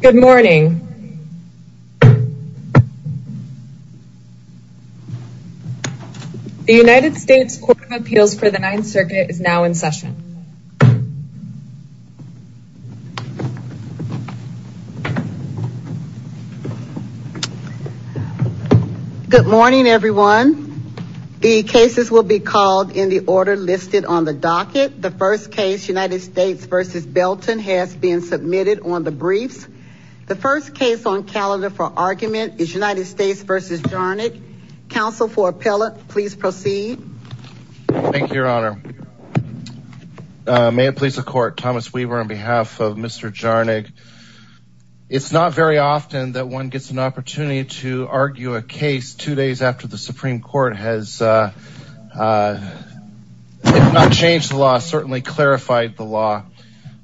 Good morning. The United States Court of Appeals for the Ninth Circuit is now in session. Good morning everyone. The cases will be called in the order listed on the docket. The first case, United States v. Belton, has been submitted on the briefs. The first case on calendar for argument is United States v. Jarnig. Counsel for appellate, please proceed. Thank you, Your Honor. May it please the Court. Thomas Weaver on behalf of Mr. Jarnig. It's not very often that one gets an opportunity to argue a case two days after the Supreme Court has verified the law.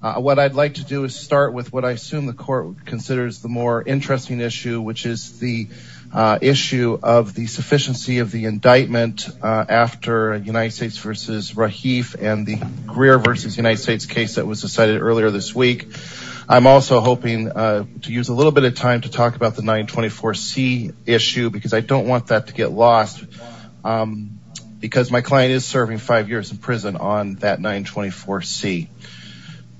What I'd like to do is start with what I assume the Court considers the more interesting issue, which is the issue of the sufficiency of the indictment after United States v. Rahif and the Greer v. United States case that was decided earlier this week. I'm also hoping to use a little bit of time to talk about the 924C issue because I don't want that to get lost, because my client is serving five years in prison on that 924C.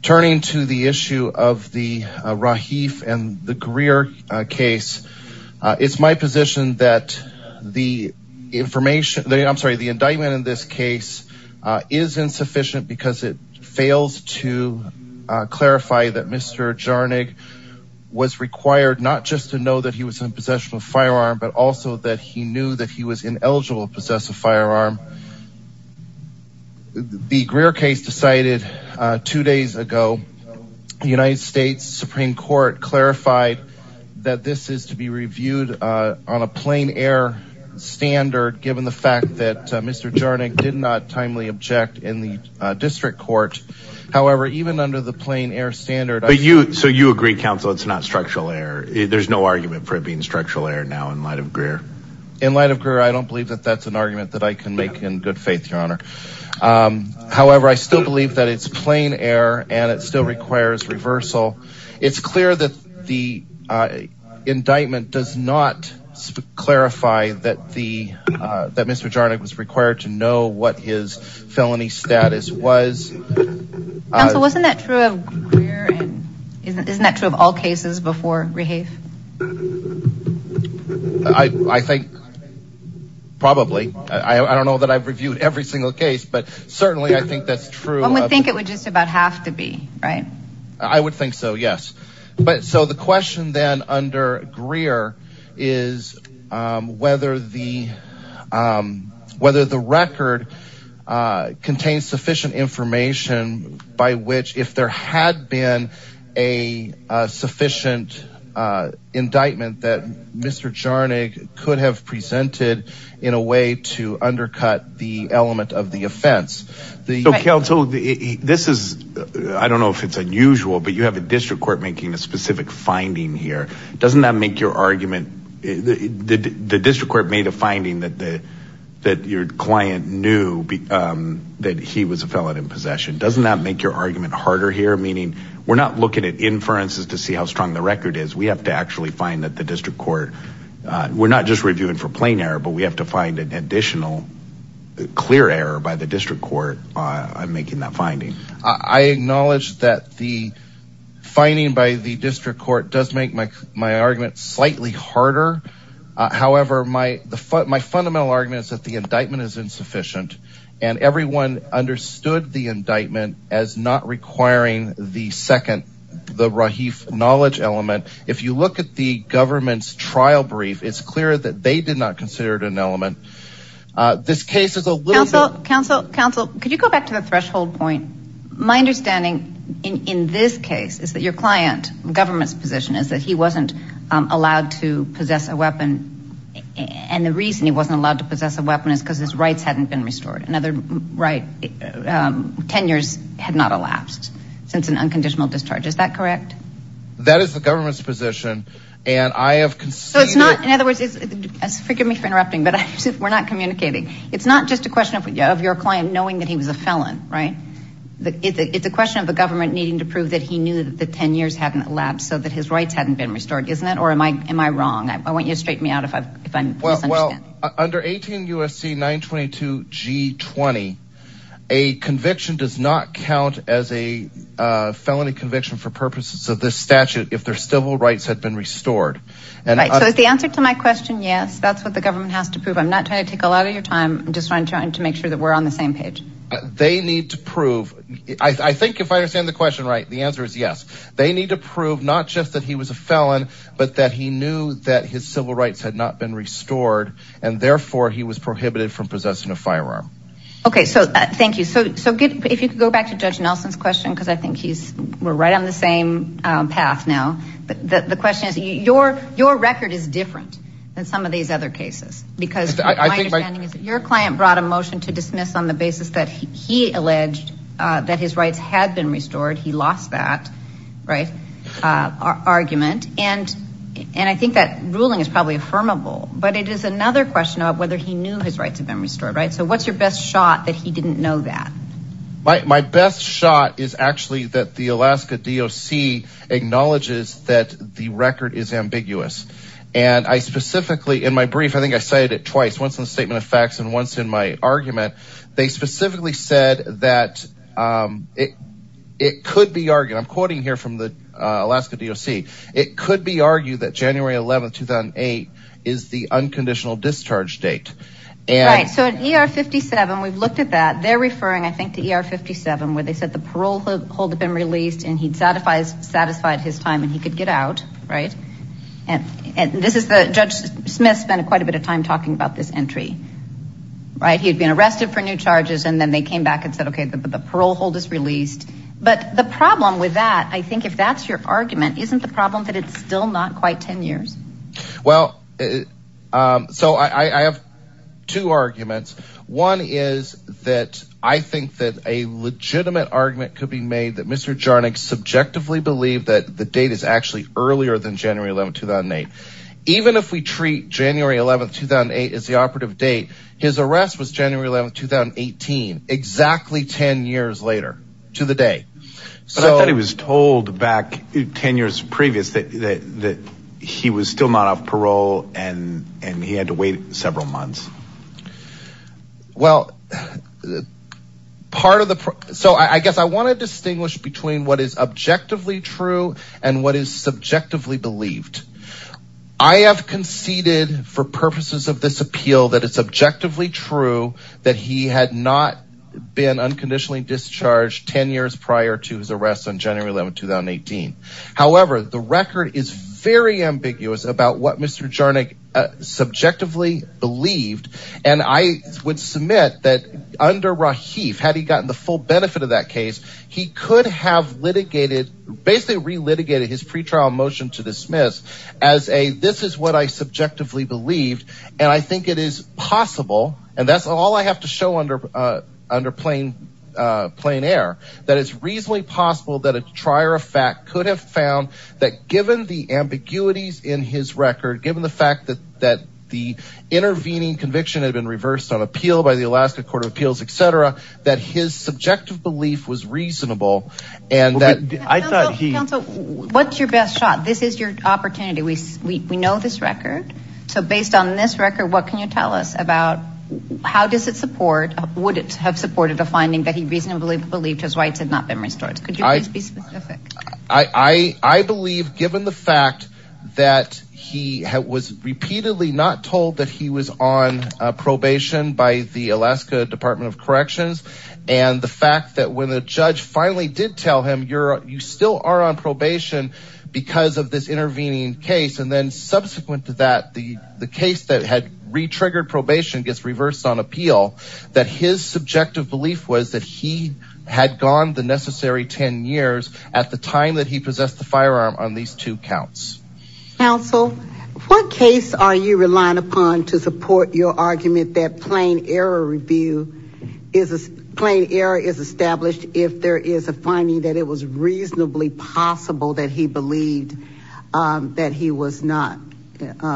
Turning to the issue of the Rahif and the Greer case, it's my position that the indictment in this case is insufficient because it fails to clarify that Mr. Jarnig was required not just to know that he was in possession of a firearm, but also that he knew that he was ineligible to possess a firearm. The Greer case decided two days ago. The United States Supreme Court clarified that this is to be reviewed on a plain air standard given the fact that Mr. Jarnig did not timely object in the district court. However, even under the plain air standard... But you, so you agree, counsel, it's not structural error. There's no argument for it being structural error now in light of Greer. In light of Greer, I don't believe that that's an argument that I can make in good faith, your honor. However, I still believe that it's plain error and it still requires reversal. It's clear that the indictment does not clarify that the, that Mr. Jarnig was required to know what his felony status was. Counsel, wasn't that true of Greer and, isn't that true of all cases before Rehave? I think probably. I don't know that I've reviewed every single case, but certainly I think that's true. One would think it would just about have to be, right? I would think so, yes. But so the question then under Greer is whether the, whether the by which, if there had been a sufficient indictment that Mr. Jarnig could have presented in a way to undercut the element of the offense. The counsel, this is, I don't know if it's unusual, but you have a district court making a specific finding here. Doesn't that make your argument, the district court made a finding that the, that your client knew that he was a felon in possession. Doesn't that make your argument harder here? Meaning we're not looking at inferences to see how strong the record is. We have to actually find that the district court, we're not just reviewing for plain error, but we have to find an additional clear error by the district court on making that finding. I acknowledge that the finding by the district court does make my, my argument slightly harder. However, my, the, my fundamental argument is that the indictment is insufficient and everyone understood the indictment as not requiring the second, the Rahif knowledge element. If you look at the government's trial brief, it's clear that they did not consider it an element. This case is a little bit- Counsel, counsel, counsel, could you go back to the threshold point? My understanding in this case is that your client, government's position is that he wasn't allowed to possess a weapon. And the reason he wasn't allowed to possess a weapon is because his rights hadn't been restored. Another right, um, 10 years had not elapsed since an unconditional discharge. Is that correct? That is the government's position. And I have conceded- So it's not, in other words, forgive me for interrupting, but we're not communicating. It's not just a question of, of your client knowing that he was a felon, right? It's a question of the government needing to prove that he knew that the 10 years hadn't elapsed so that his rights hadn't been restored, isn't it? Or am I, am I wrong? I want you to straighten me out if I'm, if I'm misunderstanding. Well, under 18 U.S.C. 922 G20, a conviction does not count as a, uh, felony conviction for purposes of this statute if their civil rights had been restored. Right, so is the answer to my question yes? That's what the government has to prove. I'm not trying to take a lot of your time. I'm just trying to make sure that we're on the same page. They need to prove, I think if I understand the question right, the answer is yes. They need to prove not just that he was a felon, but that he knew that his civil rights had not been restored and therefore he was prohibited from possessing a firearm. Okay, so thank you. So, so good. If you could go back to Judge Nelson's question, because I think he's, we're right on the same path now. The, the question is your, your record is different than some of these other cases because my understanding is that your client brought a motion to dismiss on the basis that he alleged that his rights had been restored. He lost that, right, uh, argument. And, and I think that ruling is probably affirmable, but it is another question of whether he knew his rights had been restored, right? So what's your best shot that he didn't know that? My best shot is actually that the Alaska DOC acknowledges that the record is ambiguous. And I specifically in my brief, I think I cited it twice, once in the statement of facts and once in my argument, they specifically said that, um, it, it could be argued, I'm quoting here from the Alaska DOC. It could be argued that January 11th, 2008 is the unconditional discharge date. Right, so in ER 57, we've looked at that. They're referring, I think, to ER 57 where they said the parole hold had been released and he'd satisfied his time and he could get out. Right. And, and this is the, Judge Smith spent quite a bit of time talking about this right. He had been arrested for new charges and then they came back and said, okay, the parole hold is released. But the problem with that, I think if that's your argument, isn't the problem that it's still not quite 10 years? Well, um, so I, I have two arguments. One is that I think that a legitimate argument could be made that Mr. Jarnik subjectively believed that the date is actually earlier than January 11th, 2008. Even if we treat January 11th, 2008 as the operative date, his arrest was January 11th, 2018, exactly 10 years later to the day. So I thought he was told back 10 years previous that, that he was still not off parole and, and he had to wait several months. Well part of the, so I guess I want to distinguish between what is objectively true and what is subjectively believed. I have conceded for purposes of this appeal that it's objectively true that he had not been unconditionally discharged 10 years prior to his arrest on January 11th, 2018. However, the record is very ambiguous about what Mr. Jarnik subjectively believed. And I would submit that under Rahif, had he gotten the full benefit of that case, he could have litigated, basically re-litigated his pretrial motion to dismiss as a, this is what I subjectively believed. And I think it is possible, and that's all I have to show under, under plain, plain air, that it's reasonably possible that a trier of fact could have found that given the ambiguities in his record, given the fact that, that the intervening conviction had been reversed on appeal by the Alaska Court of Appeals, etc., that his subjective belief was reasonable. And that, I thought he, counsel, what's your best shot? This is your opportunity. We, we know this record. So based on this record, what can you tell us about how does it support, would it have supported a finding that he reasonably believed his rights had not been restored? Could you please be specific? I, I, I believe given the fact that he was repeatedly not told that he was on probation by the Alaska Department of Corrections, and the fact that when the judge finally did tell him you're, you still are on probation because of this intervening case, and then subsequent to that, the case that had re-triggered probation gets reversed on appeal, that his subjective belief was that he had gone the necessary 10 years at the time that he possessed the firearm on these two counts. Counsel, what case are you relying upon to support your argument that plain error review is, plain error is established if there is a finding that it was reasonably possible that he believed that he was not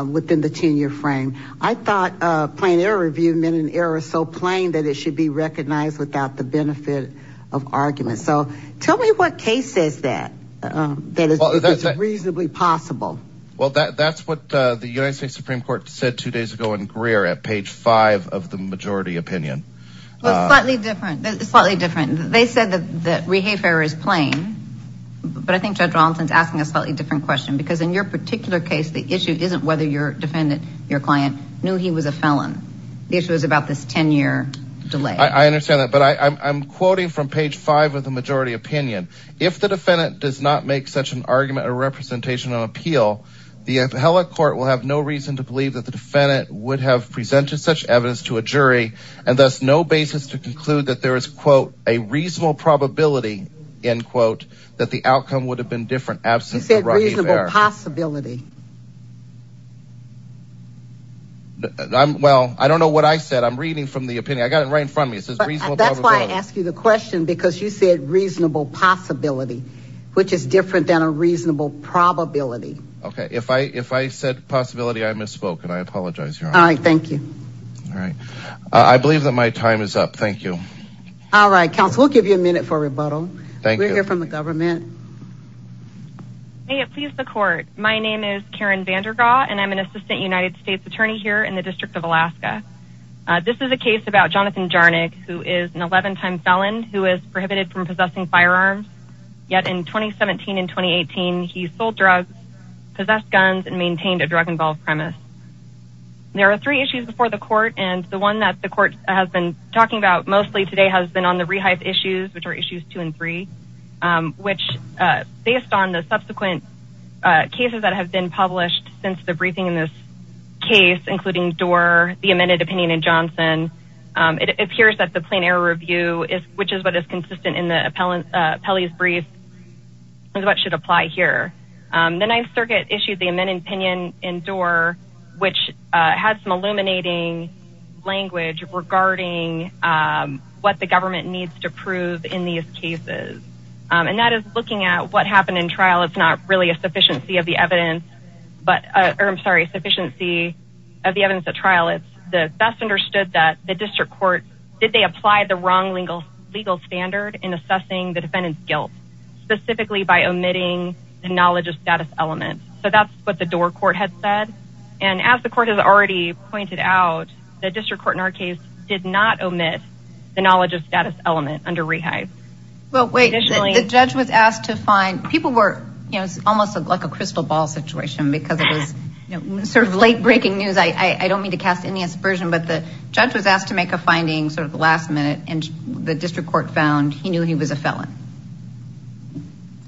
within the 10-year frame? I thought plain error review meant an error so plain that it should be recognized without the benefit of argument. So tell me what case says that, that is reasonably possible. Well, that, that's what the United States Supreme Court said two days ago in Greer at page 5 of the majority opinion. Well, it's slightly different, slightly different. They said that, that re-hafe error is plain, but I think Judge Rollinson's asking a slightly different question because in your particular case, the issue isn't whether your defendant, your client, knew he was a felon. The issue is about this 10-year delay. I, I understand that, but I, I'm quoting from page 5 of the majority opinion. If the defendant does not make such an argument or representation on appeal, the appellate court will have no reason to believe that the defendant would have presented such evidence to a jury and thus no basis to conclude that there is quote a reasonable probability, end quote, that the outcome would have been different absent the right of error. You said reasonable possibility. I'm, well, I don't know what I said. I'm reading from the opinion. I got it right in front of me. It says reasonable probability. That's why I asked you the question because you said reasonable possibility, which is different than a reasonable probability. Okay. If I, if I said possibility, I misspoke and I apologize. All right. Thank you. All right. I believe that my time is up. Thank you. All right. Counsel, we'll give you a minute for rebuttal. We're here from the government. May it please the court. My name is Karen Vandergaat and I'm an assistant United States attorney here in the district of Alaska. This is a case about Jonathan Jarnik, who is an 11 time felon who is prohibited from possessing firearms yet in 2017 and 2018, he sold drugs, possessed guns and maintained a drug involved premise. There are three issues before the court and the one that the court has been talking about mostly today has been on the rehype issues, which are issues two and three which based on the subsequent cases that have been published since the briefing in this case, including door, the amended opinion in Johnson. It appears that the plain error review is, which is what is consistent in the appellant Pelley's brief is what should apply here. The ninth circuit issued the amended opinion in door, which had some illuminating language regarding what the government needs to prove in these cases. And that is looking at what happened in trial. It's not really a sufficiency of the evidence, but I'm sorry, sufficiency of the evidence at trial. It's the best understood that the district court, did they apply the wrong legal standard in assessing the defendant's guilt, specifically by omitting the knowledge of status element. So that's what the door court had said. And as the court has already pointed out, the district court in our case did not omit the knowledge of status element under rehype. Well, wait, the judge was asked to find people almost like a crystal ball situation because it was sort of late breaking news. I don't mean to cast any aspersion, but the judge was asked to make a finding sort of last minute and the district court found he knew he was a felon.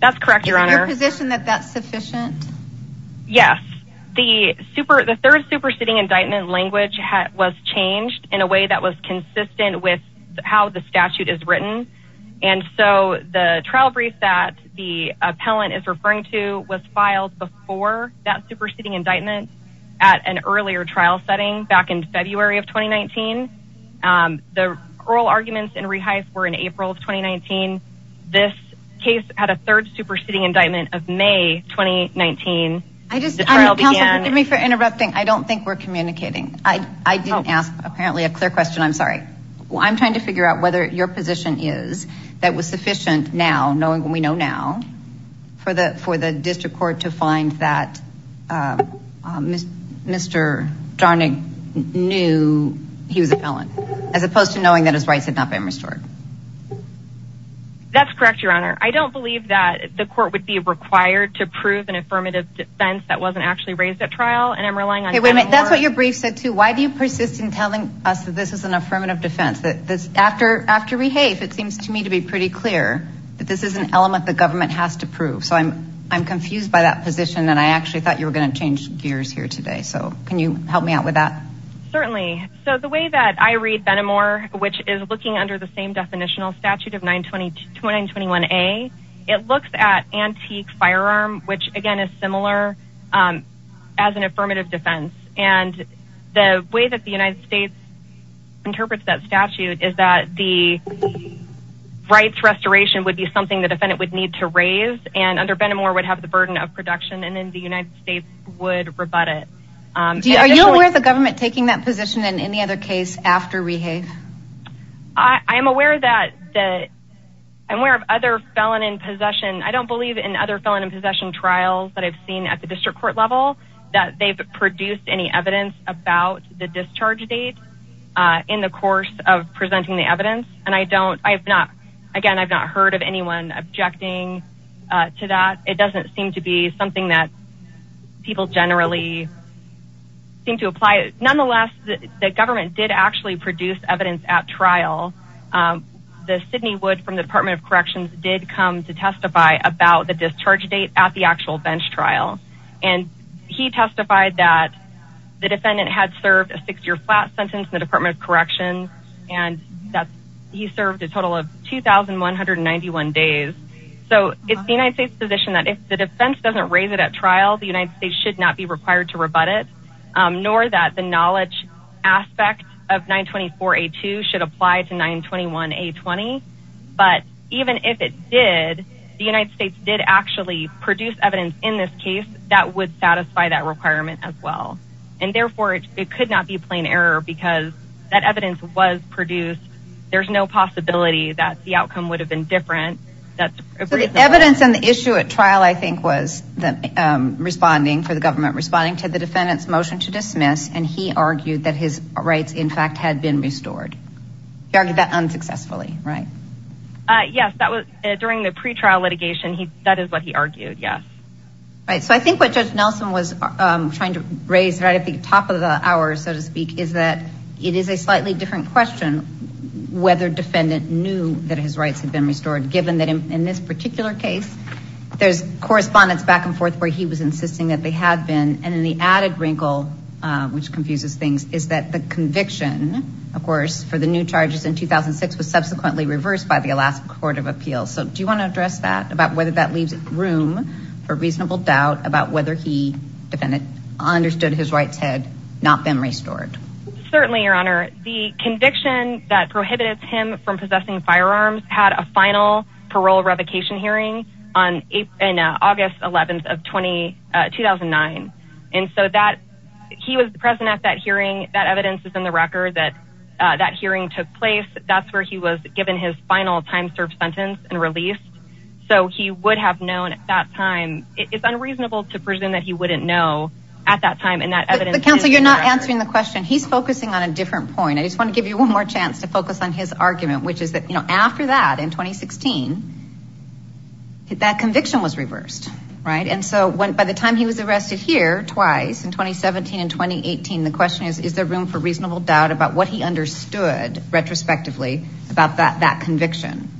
That's correct. Your position that that's sufficient. Yes. The super, the third superseding indictment language was changed in a way that was consistent with how the statute is written. And so the trial brief that the appellant is referring to was filed before that superseding indictment at an earlier trial setting back in February of 2019. The oral arguments in rehype were in April of 2019. This case had a third superseding indictment of May, 2019. I just, I don't think we're communicating. I didn't ask apparently a question. I'm sorry. Well, I'm trying to figure out whether your position is that was sufficient now knowing when we know now for the, for the district court to find that Mr. Jarnag knew he was a felon as opposed to knowing that his rights had not been restored. That's correct. Your honor. I don't believe that the court would be required to prove an affirmative defense that wasn't actually raised at trial. And I'm relying on it. That's what your brief said too. Why do you persist in telling us that this is an affirmative defense that this after, after we have, it seems to me to be pretty clear that this is an element the government has to prove. So I'm, I'm confused by that position. And I actually thought you were going to change gears here today. So can you help me out with that? Certainly. So the way that I read Benamor, which is looking under the same definitional statute of nine 22, 9 21 a it looks at antique firearm, which again is similar as an affirmative defense. And the way that the United States interprets that statute is that the rights restoration would be something that defendant would need to raise and under Benamor would have the burden of production. And then the United States would rebut it. Do you, are you aware of the government taking that position in any after we have, I am aware of that, that I'm aware of other felon in possession. I don't believe in other felon in possession trials that I've seen at the district court level that they've produced any evidence about the discharge date in the course of presenting the evidence. And I don't, I have not, again, I've not heard of anyone objecting to that. It doesn't seem to be something that people generally seem to apply. Nonetheless, the government did actually produce evidence at trial. The Sidney wood from the department of corrections did come to testify about the discharge date at the actual bench trial. And he testified that the defendant had served a six year flat sentence in the department of correction. And that's, he served a total of 2,191 days. So it's the United States position that if the defense doesn't raise it at trial, the United States should not be required to rebut it nor that the knowledge aspect of 924 A2 should apply to 921 A20. But even if it did, the United States did actually produce evidence in this case that would satisfy that requirement as well. And therefore it could not be plain error because that evidence was produced. There's no possibility that the outcome would have been different. That's the evidence and the issue at trial, I think was the responding for the government responding to the defendant's motion to dismiss. And he argued that his rights in fact had been restored. He argued that unsuccessfully, right? Yes, that was during the pretrial litigation. He, that is what he argued. Yes. Right. So I think what judge Nelson was trying to raise right at the top of the hour, so to speak, is that it is a slightly different question, whether defendant knew that his rights had been restored, given that in this particular case, there's correspondence back and forth, where he was insisting that they had been. And then the added wrinkle, which confuses things, is that the conviction, of course, for the new charges in 2006 was subsequently reversed by the Alaska Court of Appeals. So do you want to address that about whether that leaves room for reasonable doubt about whether he defended, understood his rights had not been restored? Certainly, your honor, the conviction that prohibited him from possessing firearms had a 2009. And so that, he was present at that hearing. That evidence is in the record that that hearing took place. That's where he was given his final time served sentence and released. So he would have known at that time. It's unreasonable to presume that he wouldn't know at that time and that evidence. But counsel, you're not answering the question. He's focusing on a different point. I just want to give you one more chance to focus on his argument, which is after that, in 2016, that conviction was reversed, right? And so by the time he was arrested here twice in 2017 and 2018, the question is, is there room for reasonable doubt about what he understood retrospectively about that conviction?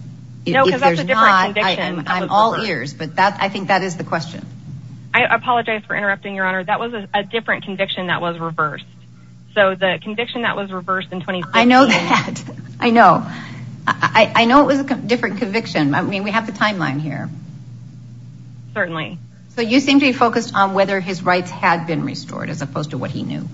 No, because that's a different conviction. I'm all ears, but I think that is the question. I apologize for interrupting, your honor. That was a different conviction that was reversed. So the conviction that was reversed in 2016. I know. I know it was a different conviction. I mean, we have the timeline here. Certainly. So you seem to be focused on whether his rights had been restored as opposed to what he knew.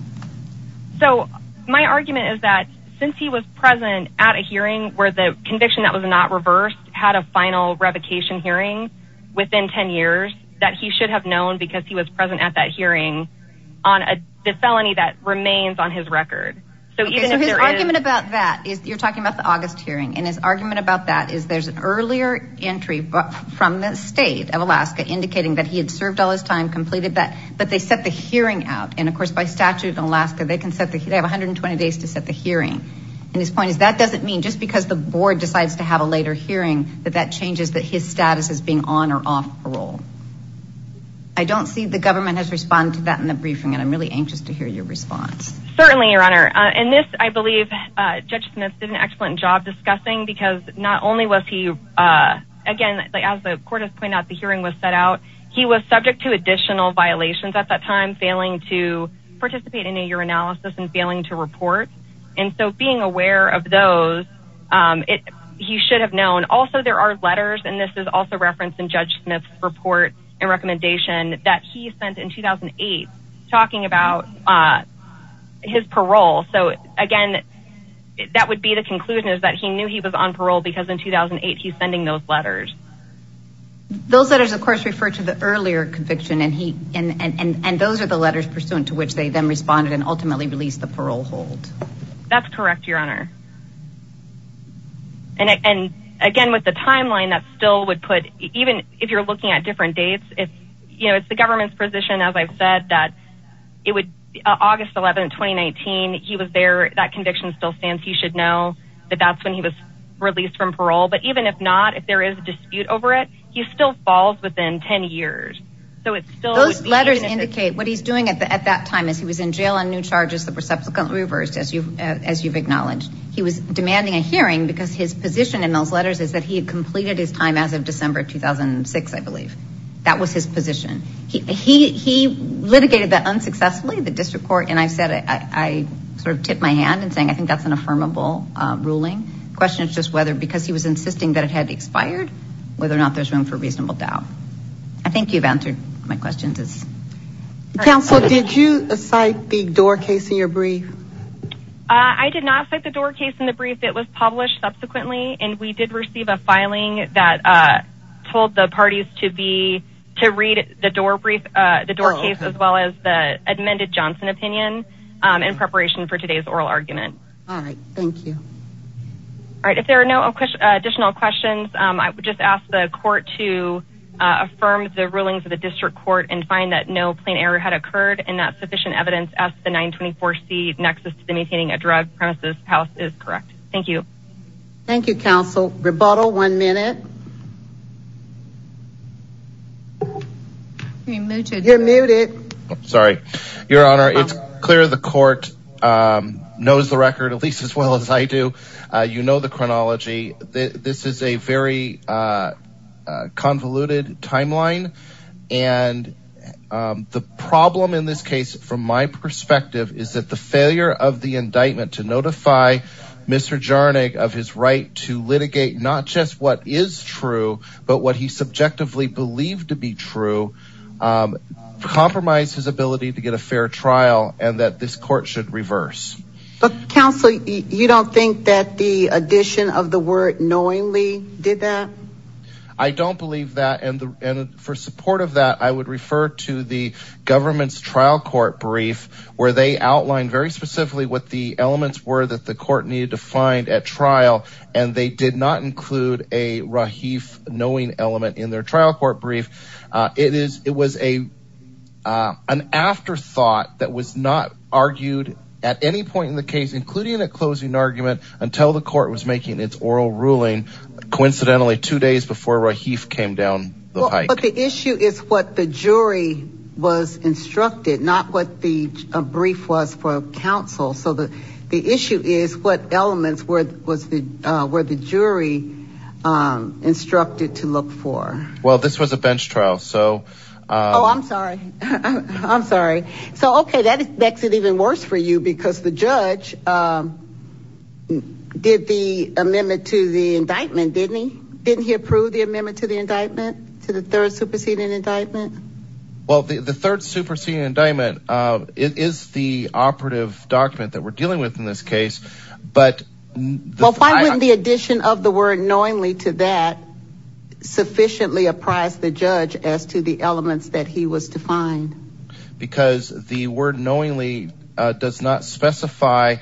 So my argument is that since he was present at a hearing where the conviction that was not reversed had a final revocation hearing within 10 years, that he should have known because he was present at that hearing on the felony that remains on his record. So his argument about that is, you're talking about the August hearing and his argument about that is there's an earlier entry from the state of Alaska indicating that he had served all his time, completed that, but they set the hearing out. And of course, by statute in Alaska, they can set the, they have 120 days to set the hearing. And his point is that doesn't mean just because the board decides to have a later hearing that that changes that his status as being on or off parole. I don't see the government has responded to that in the And this, I believe, Judge Smith did an excellent job discussing because not only was he, again, as the court has pointed out, the hearing was set out. He was subject to additional violations at that time, failing to participate in a year analysis and failing to report. And so being aware of those, he should have known. Also, there are letters, and this is also referenced in Judge talking about his parole. So again, that would be the conclusion is that he knew he was on parole because in 2008, he's sending those letters. Those letters, of course, refer to the earlier conviction and he, and those are the letters pursuant to which they then responded and ultimately released the parole hold. That's correct, Your Honor. And again, with the timeline, that still would put, even if you're looking at different dates, it's the government's position, as I've said, that it would be August 11, 2019. He was there. That conviction still stands. He should know that that's when he was released from parole. But even if not, if there is a dispute over it, he still falls within 10 years. Those letters indicate what he's doing at that time as he was in jail on new charges that were subsequently reversed, as you've acknowledged. He was demanding a hearing because his position in those letters is that he had completed his as of December 2006, I believe. That was his position. He litigated that unsuccessfully, the district court, and I said, I sort of tipped my hand in saying, I think that's an affirmable ruling. The question is just whether, because he was insisting that it had expired, whether or not there's room for reasonable doubt. I think you've answered my questions. Counsel, did you cite the door case in your brief? I did not cite the door case in the brief. It was published subsequently and we did receive a filing that told the parties to read the door brief, the door case, as well as the amended Johnson opinion in preparation for today's oral argument. All right. Thank you. All right. If there are no additional questions, I would just ask the court to affirm the rulings of the district court and find that no plain error had occurred and that sufficient evidence as the 924c nexus to the maintaining a drug premises house is correct. Thank you. Thank you, counsel. Rebuttal. One minute. You're muted. Sorry, Your Honor. It's clear the court knows the record, at least as well as I do. You know the chronology. This is a very convoluted timeline. And the problem in this case, from my perspective, is that the failure of the indictment to notify Mr. Jarnag of his right to litigate not just what is true, but what he subjectively believed to be true, compromised his ability to get a fair trial and that this court should reverse. But counsel, you don't think that the addition of the word knowingly did that? I don't believe that. And for support of that, I would refer to the trial court brief where they outlined very specifically what the elements were that the court needed to find at trial. And they did not include a Rahif knowing element in their trial court brief. It is it was a an afterthought that was not argued at any point in the case, including a closing argument until the court was making its oral ruling. Coincidentally, two days before Rahif came down the pike. The issue is what the jury was instructed, not what the brief was for counsel. So the the issue is what elements were the jury instructed to look for? Well, this was a bench trial, so. Oh, I'm sorry. I'm sorry. So, OK, that makes it even worse for you because the judge did the amendment to the indictment, didn't he? Didn't he approve the amendment to the indictment to the third superseding indictment? Well, the third superseding indictment is the operative document that we're dealing with in this case. But why wouldn't the addition of the word knowingly to that sufficiently apprise the judge as to the elements that he was to find? Because the word knowingly does not specify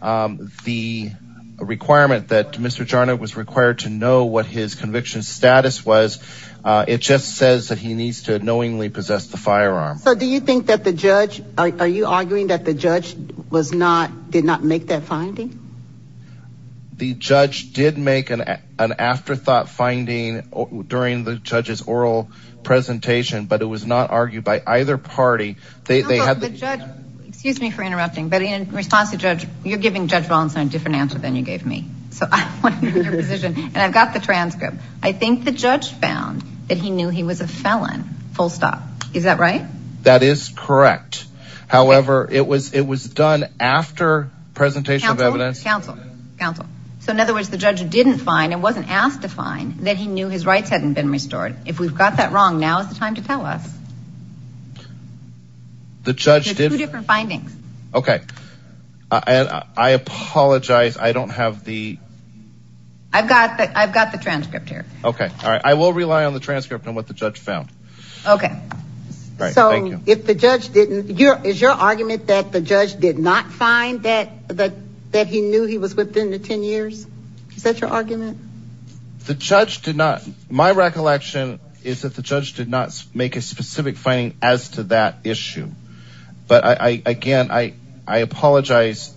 the requirement that Mr. Jarnot was required to know what his conviction status was. It just says that he needs to knowingly possess the firearm. So do you think that the judge are you arguing that the judge was not did not make that finding? The judge did make an an afterthought finding during the judge's oral presentation, but it was not argued by either party. They have the judge. Excuse me for interrupting, but in response to judge, you're giving Judge Wollinson a different answer than you gave me. So I want to know your position. And I've got the transcript. I think the judge found that he knew he was a felon. Full stop. Is that right? That is correct. However, it was it was done after presentation of evidence. Counsel. Counsel. So in other words, the judge didn't find it wasn't asked to find that he knew his rights hadn't been restored. If we've got that wrong, now is the time to tell us. The judge did different findings. Okay. And I apologize. I don't have the. I've got that. I've got the transcript here. Okay. All right. I will rely on the transcript on what the judge found. Okay. So if the judge didn't. Is your argument that the judge did not find that that that he knew he was within the 10 years. Is that your argument? The judge did not. My recollection is that the judge did not make a specific finding as to that issue. But I again, I apologize.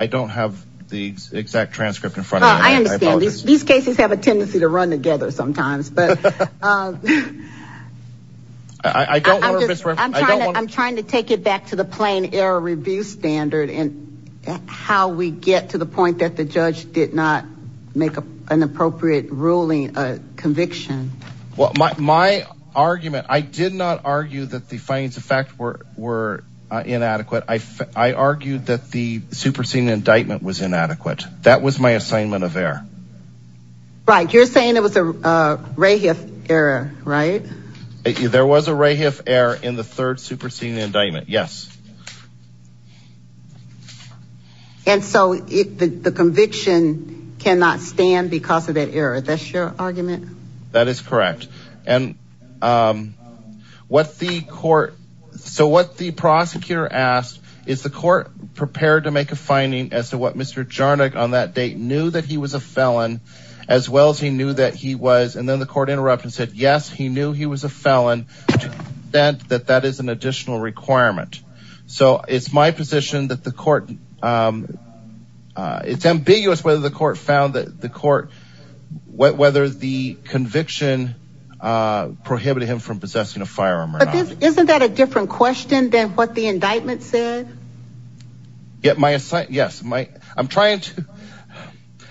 I don't have the exact transcript in front of me. I understand these cases have a tendency to run together sometimes, but. I don't know. I'm trying to take it back to the plain error review standard and how we get to the point that the judge did not make an appropriate ruling, a conviction. Well, my argument, I did not argue that the findings of fact were were inadequate. I argued that the superseding indictment was inadequate. That was my assignment of error. Right. You're saying it was a ray of error, right? There was a ray of error in the third superseding indictment. Yes. And so the conviction cannot stand because of that error. That's your argument. That is correct. And what the court. So what the prosecutor asked is the court prepared to make a finding as to what Mr. Jarnik on that date knew that he was a felon, as well as he knew that he was. And then the court interrupted, said, yes, he knew he was a felon. Then that that is an additional requirement. So it's my position that the court. It's ambiguous whether the court found that the court, whether the conviction prohibited him from possessing a firearm. Isn't that a different question than what the indictment said? Yes. I'm trying to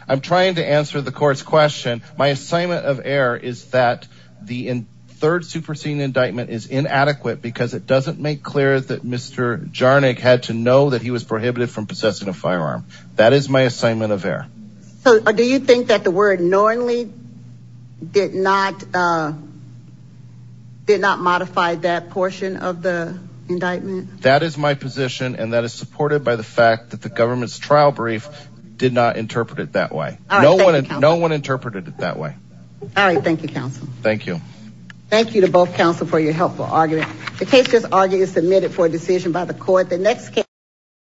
I'm trying to answer the court's question. My assignment of error is that the third superseding indictment is inadequate because it doesn't make clear that Mr. Jarnik had to know that he was prohibited from possessing a firearm. That is my assignment of error. So do you think that the word knowingly did not did not modify that portion of the indictment? That is my position. And that is supported by the fact that the government's trial brief did not interpret it that way. No one no one interpreted it that way. All right. Thank you, counsel. Thank you. Thank you to both counsel for your helpful argument. The case is argued and submitted for a decision by the court. The next case.